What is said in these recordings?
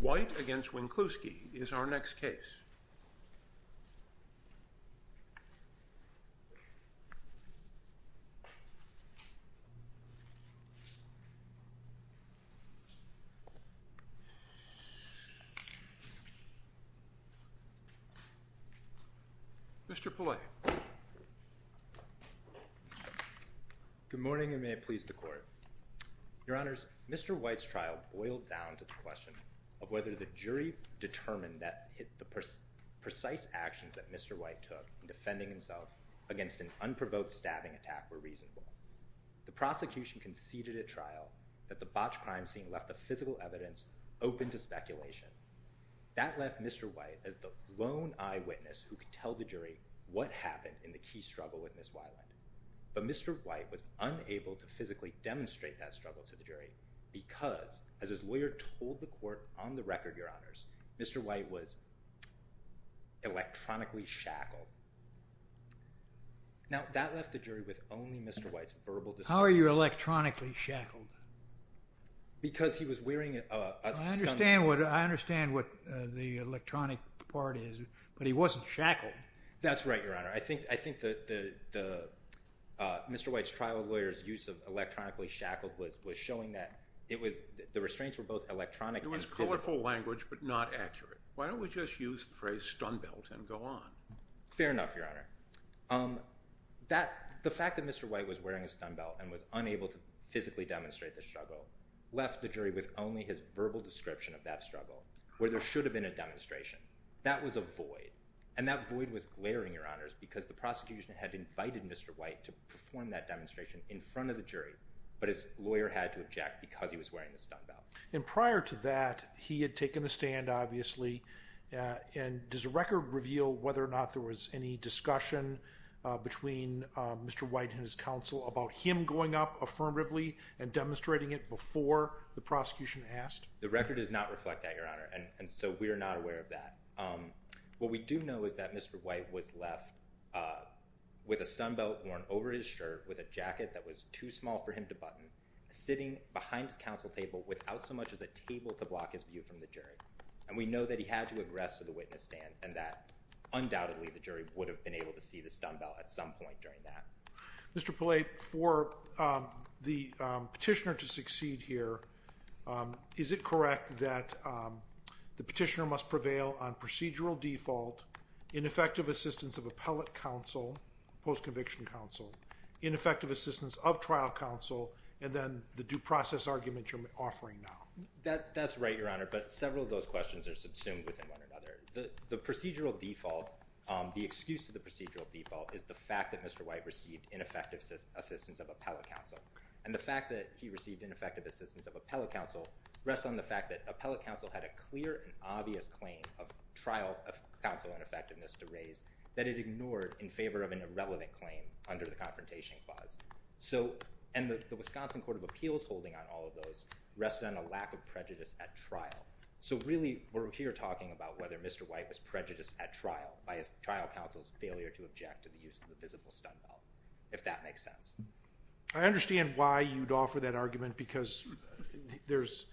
White v. Winkluski is our next case. Mr. Pillay. Good morning and may it please the Court. Your Honors, Mr. White's trial boiled down to the question of whether the jury determined that the precise actions that Mr. White took in defending himself against an unprovoked stabbing attack were reasonable. The prosecution conceded at trial that the botched crime scene left the physical evidence open to speculation. That left Mr. White as the lone eyewitness who could tell the jury what happened in the key struggle with Ms. Weiland. But Mr. White was unable to physically demonstrate that struggle to the jury because, as his lawyer told the Court on the record, your Honors, Mr. White was electronically shackled. Now that left the jury with only Mr. White's verbal description. How are you electronically shackled? Because he was wearing a sunglasses. I understand what the electronic part is, but he wasn't shackled. That's right, your Honor. I think Mr. White's trial lawyer's use of electronically shackled was showing that the restraints were both electronic and physical. It was colorful language, but not accurate. Why don't we just use the phrase, stun belt, and go on? Fair enough, your Honor. The fact that Mr. White was wearing a stun belt and was unable to physically demonstrate the struggle left the jury with only his verbal description of that struggle where there should have been a demonstration. That was a void. And that void was glaring, your Honors, because the prosecution had invited Mr. White to perform that demonstration in front of the jury, but his lawyer had to object because he was wearing the stun belt. And prior to that, he had taken the stand, obviously, and does the record reveal whether or not there was any discussion between Mr. White and his counsel about him going up affirmatively and demonstrating it before the prosecution asked? The record does not reflect that, your Honor, and so we are not aware of that. What we do know is that Mr. White was left with a stun belt worn over his shirt, with a jacket that was too small for him to button, sitting behind his counsel table without so much as a table to block his view from the jury. And we know that he had to aggress to the witness stand and that, undoubtedly, the jury would have been able to see the stun belt at some point during that. Mr. Polate, for the petitioner to succeed here, is it correct that the petitioner must prevail on procedural default, ineffective assistance of appellate counsel, post-conviction counsel, ineffective assistance of trial counsel, and then the due process argument you're offering now? That's right, your Honor, but several of those questions are subsumed within one another. The procedural default, the excuse to the procedural default, is the fact that Mr. White received ineffective assistance of appellate counsel. And the fact that he received ineffective assistance of appellate counsel rests on the fact that appellate counsel had a clear and obvious claim of trial counsel ineffectiveness to raise that it ignored in favor of an irrelevant claim under the Confrontation Clause. So, and the Wisconsin Court of Appeals holding on all of those rests on a lack of prejudice at trial. So, really, we're here talking about whether Mr. White was prejudiced at trial by his trial counsel's failure to object to the use of the visible stun belt, if that makes sense. I understand why you'd offer that argument because there's,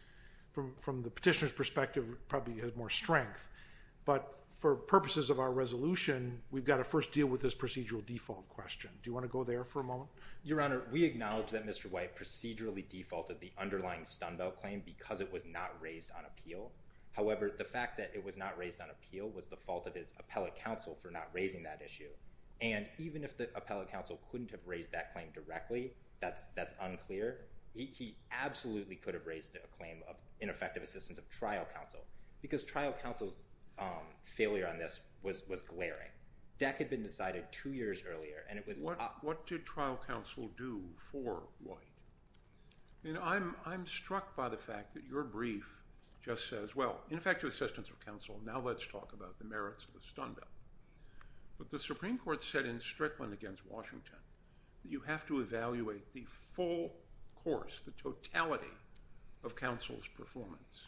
from the petitioner's perspective, probably has more strength. But for purposes of our resolution, we've got to first deal with this procedural default question. Do you want to go there for a moment? Your Honor, we acknowledge that Mr. White procedurally defaulted the underlying stun belt claim because it was not raised on appeal. However, the fact that it was not raised on appeal was the fault of his appellate counsel for not raising that issue. And even if the appellate counsel couldn't have raised that claim directly, that's unclear, he absolutely could have raised a claim of ineffective assistance of trial counsel. Because trial counsel's failure on this was glaring. That could have been decided two years earlier and it was not. What did trial counsel do for White? You know, I'm struck by the fact that your brief just says, well, ineffective assistance of counsel, now let's talk about the merits of the stun belt. But the Supreme Court said in Strickland against Washington, that you have to evaluate the full course, the totality of counsel's performance.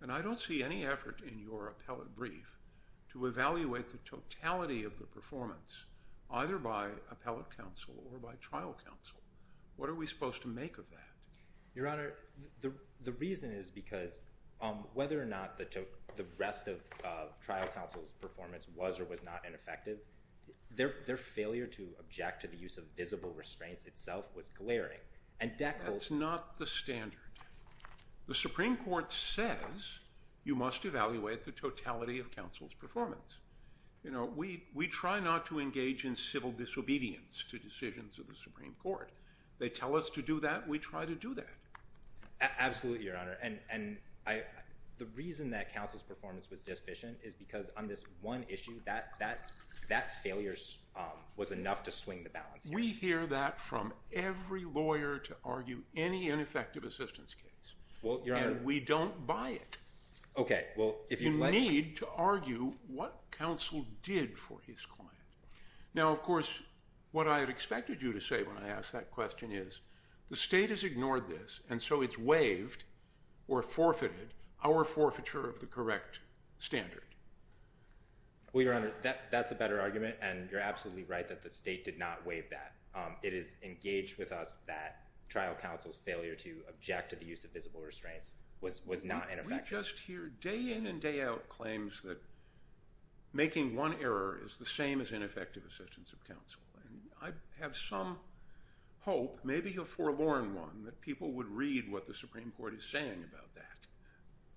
And I don't see any effort in your appellate brief to evaluate the totality of the performance either by appellate counsel or by trial counsel. What are we supposed to make of that? Your Honor, the reason is because whether or not the rest of trial counsel's performance was or was not ineffective, their failure to object to the use of visible restraints itself was glaring. And that holds... That's not the standard. The Supreme Court says you must evaluate the totality of counsel's performance. You know, we try not to engage in civil disobedience to decisions of the Supreme Court. They tell us to do that, we try to do that. Absolutely, Your Honor. And the reason that counsel's performance was deficient is because on this one issue, that failure was enough to swing the balance. We hear that from every lawyer to argue any ineffective assistance case. Well, Your Honor... And we don't buy it. Okay. Well, if you'd like... You need to argue what counsel did for his client. Now, of course, what I had expected you to say when I asked that question is, the state has ignored this, and so it's waived or forfeited our forfeiture of the correct standard. Well, Your Honor, that's a better argument, and you're absolutely right that the state did not waive that. It is engaged with us that trial counsel's failure to object to the use of visible restraints was not ineffective. We just hear day in and day out claims that making one error is the same as ineffective assistance of counsel. I have some hope, maybe a forlorn one, that people would read what the Supreme Court is saying about that.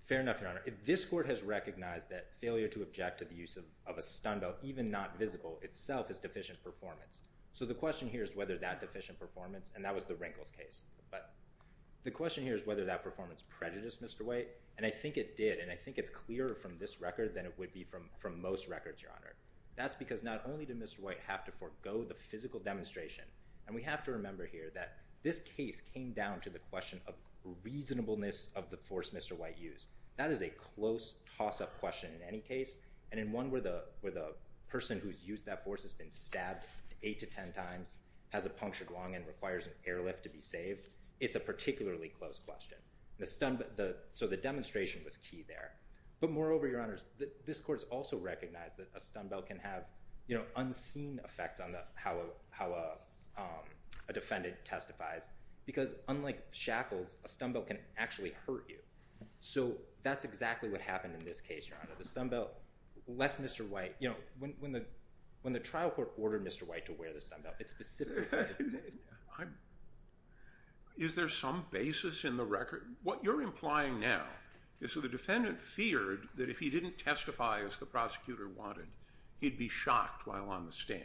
Fair enough, Your Honor. This Court has recognized that failure to object to the use of a stun belt, even not visible, itself is deficient performance. So the question here is whether that deficient performance, and that was the Rinkles case, but the question here is whether that performance prejudiced Mr. White, and I think it did, and I think it's clearer from this record than it would be from most records, Your Honor. That's because not only did Mr. White have to forego the physical demonstration, and we have to remember here that this case came down to the question of reasonableness of the force Mr. White used. That is a close toss-up question in any case, and in one where the person who's used that force has been stabbed 8 to 10 times, has a punctured lung, and requires an airlift to be saved, it's a particularly close question. So the demonstration was key there. But moreover, Your Honor, this Court has also recognized that a stun belt can have unseen effects on how a defendant testifies, because unlike shackles, a stun belt can actually hurt you. So that's exactly what happened in this case, Your Honor. The stun belt left Mr. White, you know, when the trial court ordered Mr. White to wear the stun belt, it specifically said... Is there some basis in the record? What you're implying now is that the defendant feared that if he didn't testify as the prosecutor wanted, he'd be shocked while on the stand.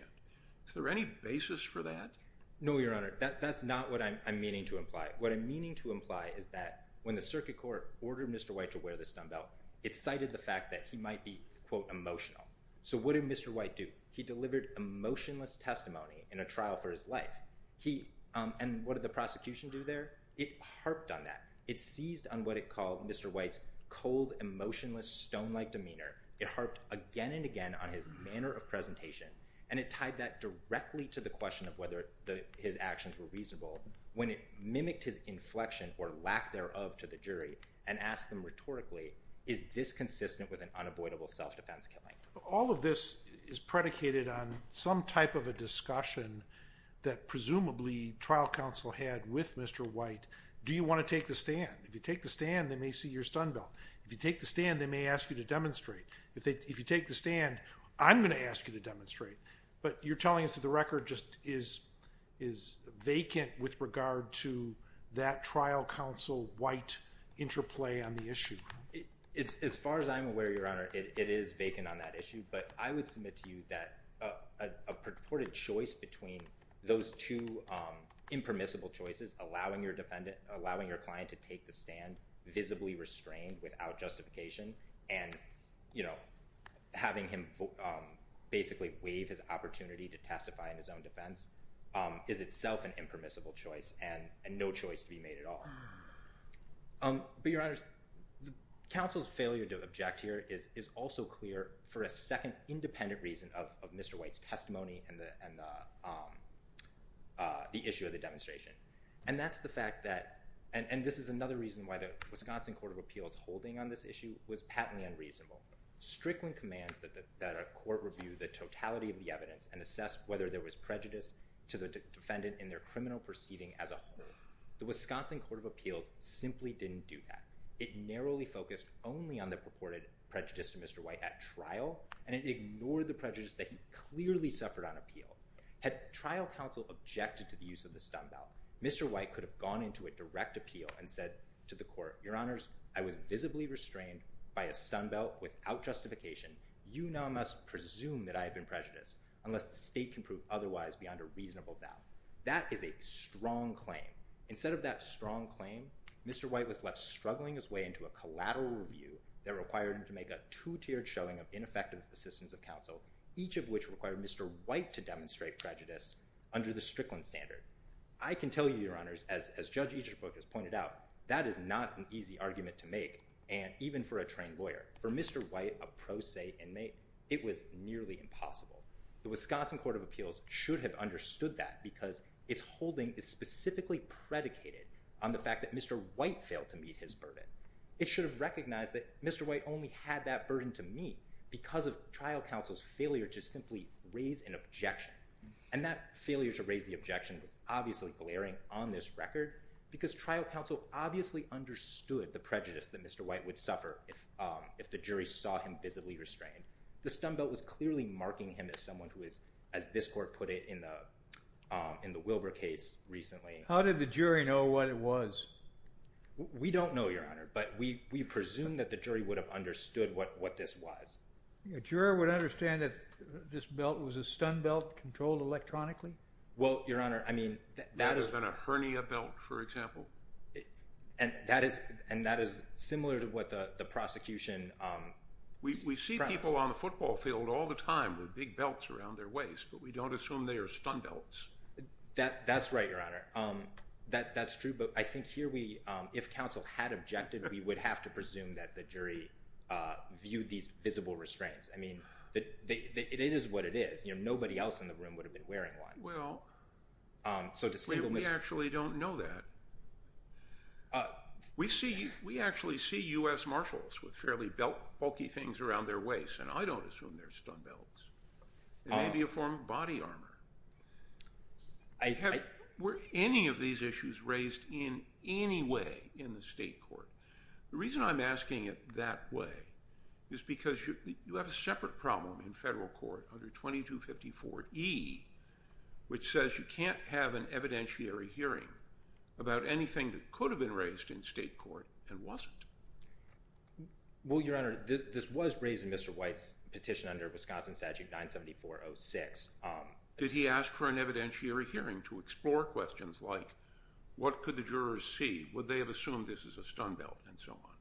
Is there any basis for that? No, Your Honor. That's not what I'm meaning to imply. What I'm meaning to imply is that when the circuit court ordered Mr. White to wear the stun belt, it cited the fact that he might be, quote, emotional. So what did Mr. White do? He delivered emotionless testimony in a trial for his life. And what did the prosecution do there? It harped on that. It seized on what it called Mr. White's cold, emotionless, stone-like demeanor. It harped again and again on his manner of presentation. And it tied that directly to the question of whether his actions were reasonable. When it mimicked his inflection or lack thereof to the jury and asked them rhetorically, is this consistent with an unavoidable self-defense killing? All of this is predicated on some type of a discussion that presumably trial counsel had with Mr. White. Do you want to take the stand? If you take the stand, they may see your stun belt. If you take the stand, they may ask you to demonstrate. If you take the stand, I'm going to ask you to demonstrate. But you're telling us that the record just is vacant with regard to that trial counsel White interplay on the issue. As far as I'm aware, Your Honor, it is vacant on that issue. But I would submit to you that a purported choice between those two impermissible choices, allowing your client to take the stand, visibly restrained without justification, and having him basically waive his opportunity to testify in his own defense, is itself an impermissible choice and no choice to be made at all. But, Your Honors, counsel's failure to object here is also clear for a second independent reason of Mr. White's testimony and the issue of the demonstration. And that's the fact that, and this is another reason why the Wisconsin Court of Appeals holding on this issue was patently unreasonable. Strickland commands that a court review the totality of the evidence and assess whether there was prejudice to the defendant in their criminal proceeding as a whole. The Wisconsin Court of Appeals simply didn't do that. It narrowly focused only on the purported prejudice to Mr. White at trial, and it ignored the prejudice that he clearly suffered on appeal. Had trial counsel objected to the use of the stun belt, Mr. White could have gone into a direct appeal and said to the court, Your Honors, I was visibly restrained by a stun belt without justification. You now must presume that I have been prejudiced unless the state can prove otherwise beyond a reasonable doubt. That is a strong claim. Instead of that strong claim, Mr. White was left struggling his way into a collateral review that required him to make a two-tiered showing of ineffective assistance of counsel, each of which required Mr. White to demonstrate prejudice under the Strickland standard. I can tell you, Your Honors, as Judge Eagerbrook has pointed out, that is not an easy argument to make, and even for a trained lawyer. For Mr. White, a pro se inmate, it was nearly impossible. The Wisconsin Court of Appeals should have understood that because its holding is specifically predicated on the fact that Mr. White failed to meet his burden. It should have recognized that Mr. White only had that burden to meet because of trial counsel's failure to simply raise an objection, and that failure to raise the objection was obviously glaring on this record because trial counsel obviously understood the prejudice that Mr. White would suffer if the jury saw him visibly restrained. The stun belt was clearly marking him as someone who is, as this court put it in the Wilbur case recently. How did the jury know what it was? We don't know, Your Honor, but we presume that the jury would have understood what this was. A juror would understand that this belt was a stun belt controlled electronically? Well, Your Honor, I mean, that is... Rather than a hernia belt, for example. And that is similar to what the prosecution... We see people on the football field all the time with big belts around their waist, but we don't assume they are stun belts. That's right, Your Honor. That's true, but I think here we... If counsel had objected, we would have to presume that the jury viewed these visible restraints. I mean, it is what it is. Nobody else in the room would have been wearing one. Well, we actually don't know that. We actually see U.S. Marshals with fairly bulky things around their waist, and I don't assume they're stun belts. They may be a form of body armor. Were any of these issues raised in any way in the state court? The reason I'm asking it that way is because you have a separate problem in federal court under 2254E, which says you can't have an evidentiary hearing about anything that could have been raised in state court and wasn't. Well, Your Honor, this was raised in Mr. White's petition under Wisconsin Statute 97406. Did he ask for an evidentiary hearing to explore questions like, what could the jurors see? Would they have assumed this is a stun belt, and so on?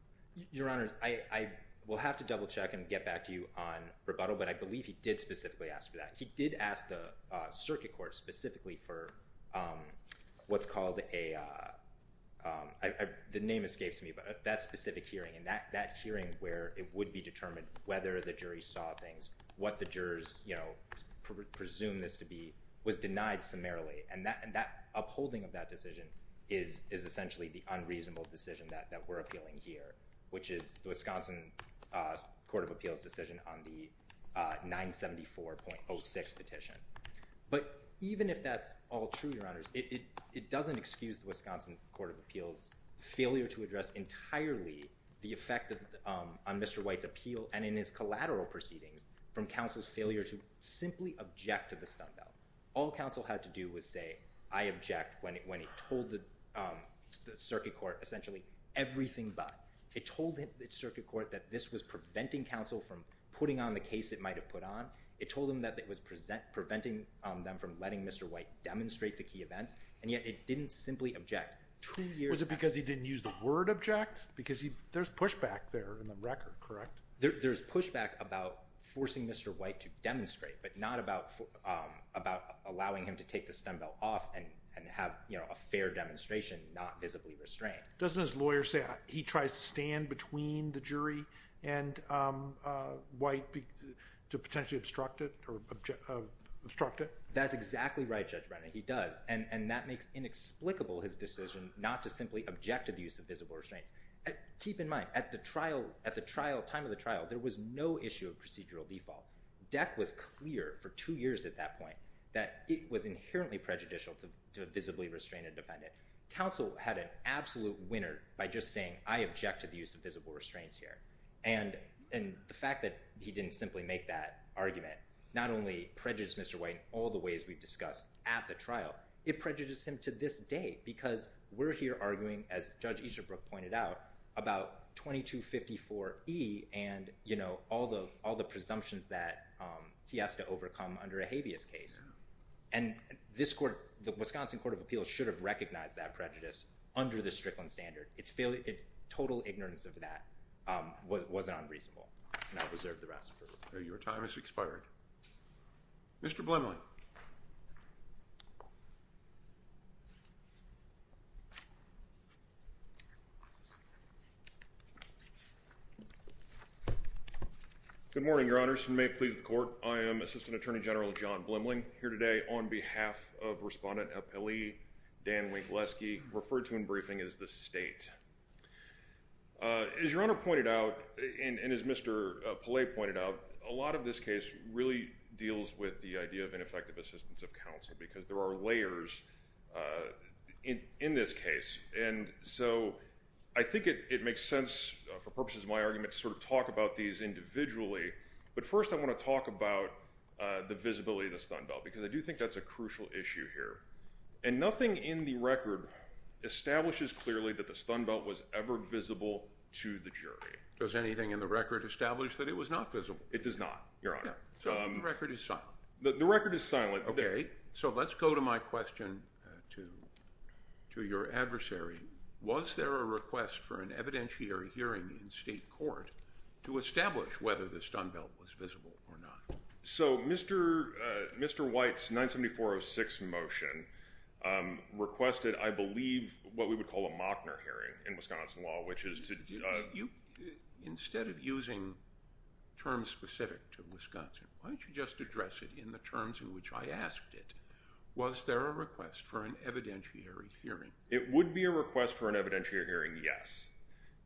Your Honor, I will have to double check and get back to you on rebuttal, but I believe he did specifically ask for that. He did ask the circuit court specifically for what's called a—the name escapes me, but that specific hearing, and that hearing where it would be determined whether the jury saw things, what the jurors presumed this to be, was denied summarily. And that upholding of that decision is essentially the unreasonable decision that we're appealing here, which is the Wisconsin Court of Appeals' decision on the 974.06 petition. But even if that's all true, Your Honors, it doesn't excuse the Wisconsin Court of Appeals' failure to address entirely the effect on Mr. White's appeal and in his collateral proceedings from counsel's failure to simply object to the stun belt. All counsel had to do was say, I object, when he told the circuit court essentially everything but. It told the circuit court that this was preventing counsel from putting on the case it might have put on. It told him that it was preventing them from letting Mr. White demonstrate the key events, and yet it didn't simply object. Two years— Was it because he didn't use the word object? Because there's pushback there in the record, correct? There's pushback about forcing Mr. White to demonstrate, but not about allowing him to take the stun belt off and have a fair demonstration not visibly restrained. Doesn't his lawyer say he tries to stand between the jury and White to potentially obstruct it? That's exactly right, Judge Brennan. He does, and that makes inexplicable his decision not to simply object to the use of visible restraints. Keep in mind, at the time of the trial, there was no issue of procedural default. Deck was clear for two years at that point that it was inherently prejudicial to visibly restrain a defendant. Counsel had an absolute winner by just saying, I object to the use of visible restraints here. And the fact that he didn't simply make that argument not only prejudiced Mr. White in all the ways we've discussed at the trial, it prejudiced him to this day because we're here arguing, as Judge Easterbrook pointed out, about 2254E and all the presumptions that he has to overcome under a habeas case. And the Wisconsin Court of Appeals should have recognized that prejudice under the Strickland standard. Its total ignorance of that wasn't unreasonable, and I reserve the rest. Your time has expired. Mr. Blimley. Good morning, Your Honors. And may it please the Court, I am Assistant Attorney General John Blimley. I'm here today on behalf of Respondent Appellee Dan Winkleski, referred to in briefing as the State. As Your Honor pointed out, and as Mr. Pallet pointed out, a lot of this case really deals with the idea of ineffective assistance of counsel because there are layers in this case. And so I think it makes sense, for purposes of my argument, to sort of talk about these individually. But first I want to talk about the visibility of the stun belt because I do think that's a crucial issue here. And nothing in the record establishes clearly that the stun belt was ever visible to the jury. Does anything in the record establish that it was not visible? It does not, Your Honor. So the record is silent. The record is silent. Okay. So let's go to my question to your adversary. Was there a request for an evidentiary hearing in state court to establish whether the stun belt was visible or not? So Mr. White's 974-06 motion requested, I believe, what we would call a Mochner hearing in Wisconsin law, which is to... Instead of using terms specific to Wisconsin, why don't you just address it in the terms in which I asked it. Was there a request for an evidentiary hearing? It would be a request for an evidentiary hearing, yes.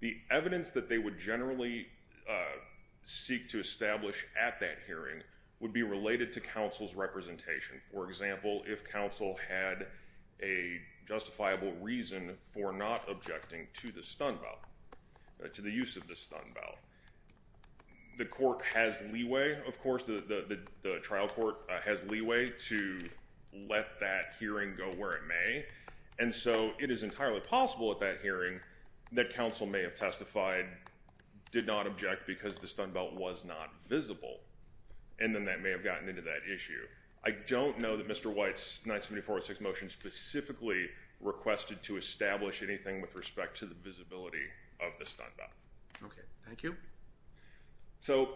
The evidence that they would generally seek to establish at that hearing would be related to counsel's representation. For example, if counsel had a justifiable reason for not objecting to the stun belt, to the use of the stun belt. The court has leeway, of course, the trial court has leeway to let that hearing go where it may. And so it is entirely possible at that hearing that counsel may have testified, did not object because the stun belt was not visible. And then that may have gotten into that issue. I don't know that Mr. White's 974-06 motion specifically requested to establish anything with respect to the visibility of the stun belt. Okay. Thank you. So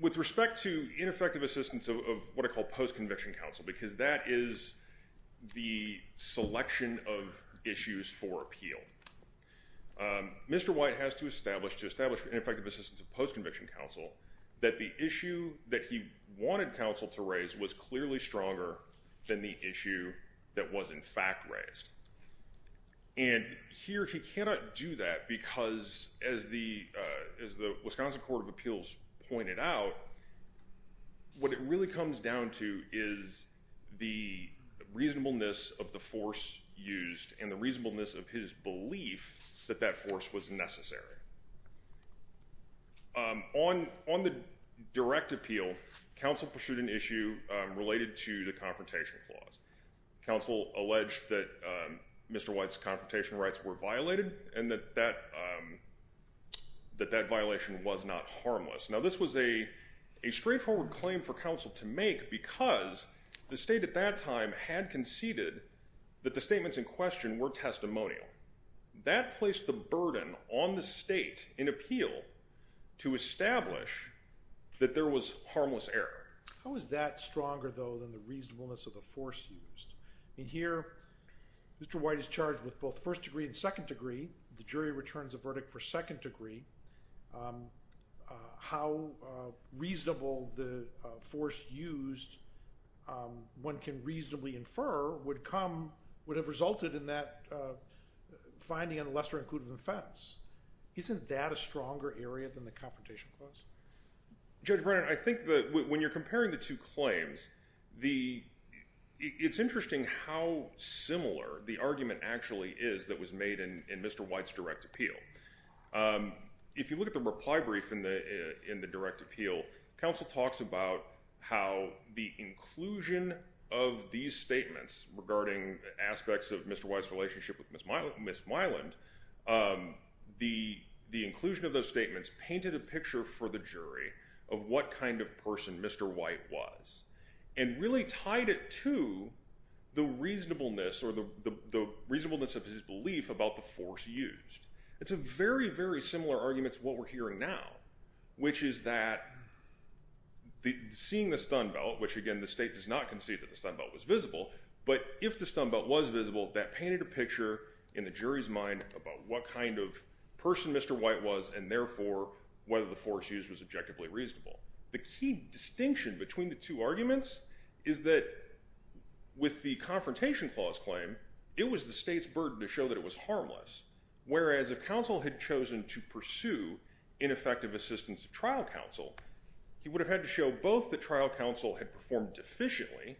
with respect to ineffective assistance of what I call post-conviction counsel, because that is the selection of issues for appeal. Mr. White has to establish, to establish ineffective assistance of post-conviction counsel, that the issue that he wanted counsel to raise was clearly stronger than the issue that was in fact raised. And here he cannot do that because, as the Wisconsin Court of Appeals pointed out, what it really comes down to is the reasonableness of the force used and the reasonableness of his belief that that force was necessary. On the direct appeal, counsel pursued an issue related to the confrontation clause. Counsel alleged that Mr. White's confrontation rights were violated and that that violation was not harmless. Now, this was a straightforward claim for counsel to make because the state at that time had conceded that the statements in question were testimonial. That placed the burden on the state in appeal to establish that there was harmless error. How is that stronger, though, than the reasonableness of the force used? In here, Mr. White is charged with both first degree and second degree. The jury returns a verdict for second degree. How reasonable the force used, one can reasonably infer, would have resulted in that finding on a lesser inclusive offense. Isn't that a stronger area than the confrontation clause? Judge Brennan, I think that when you're comparing the two claims, it's interesting how similar the argument actually is that was made in Mr. White's direct appeal. If you look at the reply brief in the direct appeal, counsel talks about how the inclusion of these statements regarding aspects of Mr. White's relationship with Ms. Myland, the inclusion of those statements painted a picture for the jury of what kind of person Mr. White was and really tied it to the reasonableness or the reasonableness of his belief about the force used. It's a very, very similar argument to what we're hearing now, which is that seeing the stun belt, which again the state does not concede that the stun belt was visible, but if the stun belt was visible, that painted a picture in the jury's mind about what kind of person Mr. White was and therefore whether the force used was objectively reasonable. The key distinction between the two arguments is that with the confrontation clause claim, it was the state's burden to show that it was harmless, whereas if counsel had chosen to pursue ineffective assistance of trial counsel, he would have had to show both that trial counsel had performed deficiently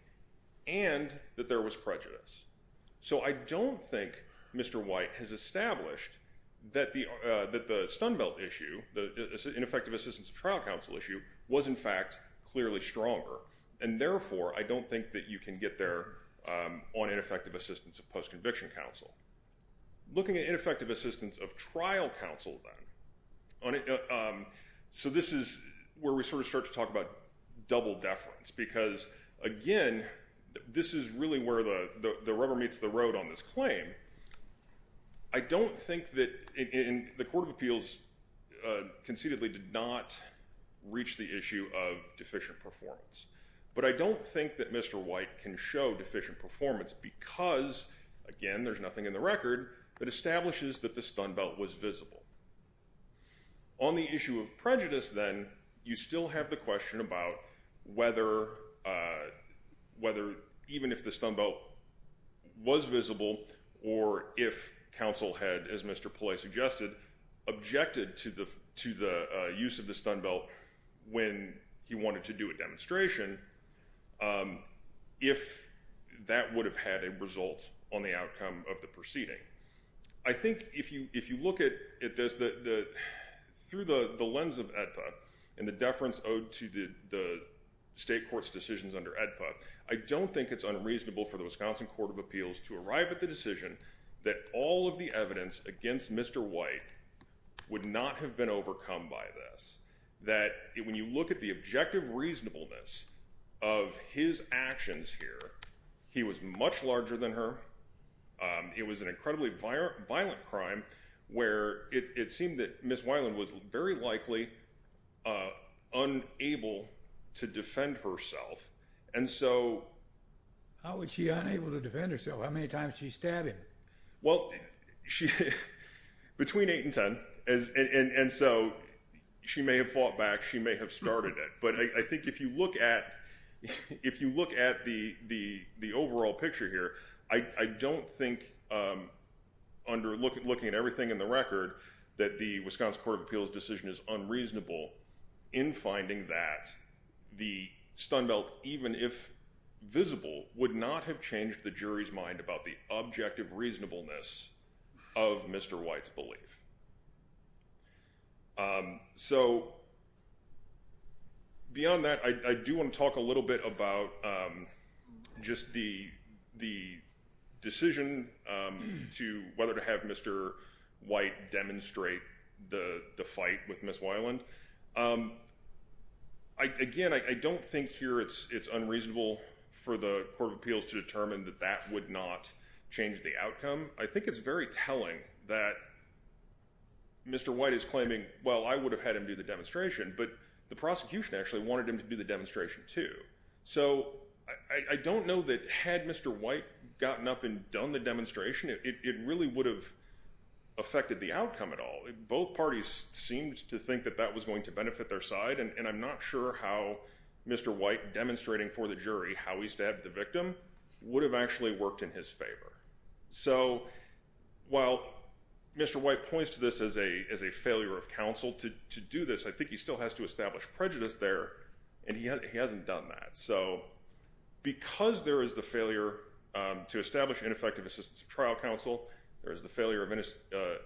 and that there was prejudice. So I don't think Mr. White has established that the stun belt issue, the ineffective assistance of trial counsel issue, was in fact clearly stronger and therefore I don't think that you can get there on ineffective assistance of post-conviction counsel. Looking at ineffective assistance of trial counsel then, so this is where we sort of start to talk about double deference because again, this is really where the rubber meets the road on this claim. I don't think that, and the Court of Appeals concededly did not reach the issue of deficient performance, but I don't think that Mr. White can show deficient performance because again, there's nothing in the record that establishes that the stun belt was visible. On the issue of prejudice then, you still have the question about whether even if the counsel had, as Mr. Pillay suggested, objected to the use of the stun belt when he wanted to do a demonstration, if that would have had a result on the outcome of the proceeding. I think if you look at this through the lens of AEDPA and the deference owed to the state court's decisions under AEDPA, I don't think it's unreasonable for the Wisconsin Court of Appeals to arrive at the decision that all of the evidence against Mr. White would not have been overcome by this. That when you look at the objective reasonableness of his actions here, he was much larger than her. It was an incredibly violent crime where it seemed that Ms. Weiland was very likely unable to defend herself. How was she unable to defend herself? How many times did she stab him? Between 8 and 10. She may have fought back. She may have started it. I think if you look at the overall picture here, I don't think under looking at everything in the record that the Wisconsin Court of Appeals' decision is unreasonable in finding that the stun belt, even if visible, would not have changed the jury's mind about the objective reasonableness of Mr. White's belief. Beyond that, I do want to talk a little bit about just the decision to whether to have Mr. White demonstrate the fight with Ms. Weiland. Again, I don't think here it's unreasonable for the Court of Appeals to determine that that would not change the outcome. I think it's very telling that Mr. White is claiming, well, I would have had him do the demonstration, but the prosecution actually wanted him to do the demonstration too. I don't know that had Mr. White gotten up and done the demonstration, it really would have affected the outcome at all. Both parties seemed to think that that was going to benefit their side, and I'm not sure how Mr. White demonstrating for the jury how he stabbed the victim would have actually worked in his favor. So while Mr. White points to this as a failure of counsel to do this, I think he still has to establish prejudice there, and he hasn't done that. So because there is the failure to establish ineffective assistance of trial counsel, there is the failure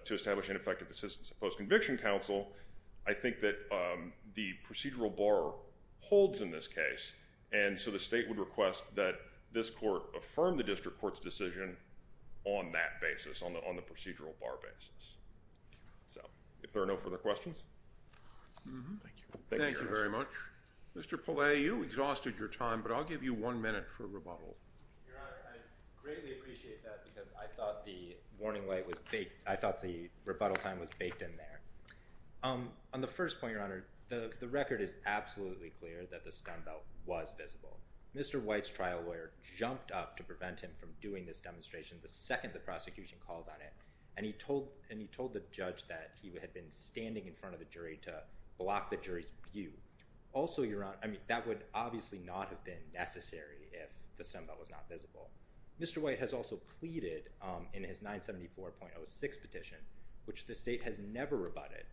to establish effective assistance of post-conviction counsel, I think that the procedural bar holds in this case, and so the state would request that this court affirm the district court's decision on that basis, on the procedural bar basis. So if there are no further questions. Thank you. Thank you very much. Mr. Pillay, you exhausted your time, but I'll give you one minute for rebuttal. Your Honor, I greatly appreciate that because I thought the warning light was baked. On the first point, Your Honor, the record is absolutely clear that the stun belt was visible. Mr. White's trial lawyer jumped up to prevent him from doing this demonstration the second the prosecution called on it, and he told the judge that he had been standing in front of the jury to block the jury's view. Also, Your Honor, that would obviously not have been necessary if the stun belt was not visible. Mr. White has also pleaded in his 974.06 petition, which the state has never rebutted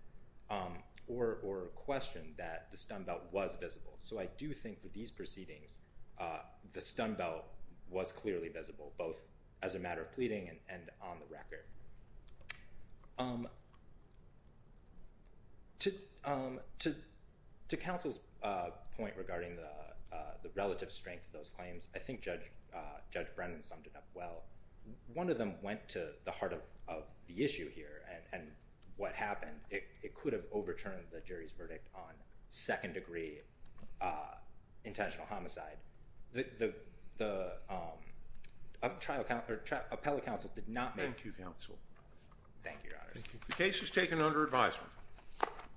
or questioned that the stun belt was visible. So I do think for these proceedings, the stun belt was clearly visible, both as a matter of pleading and on the record. To counsel's point regarding the relative strength of those claims, I think Judge Brennan summed it up well. One of them went to the heart of the issue here and what happened. It could have overturned the jury's verdict on second-degree intentional homicide. The appellate counsel did not make... Thank you, counsel. Thank you, Your Honor. The case is taken under advisement.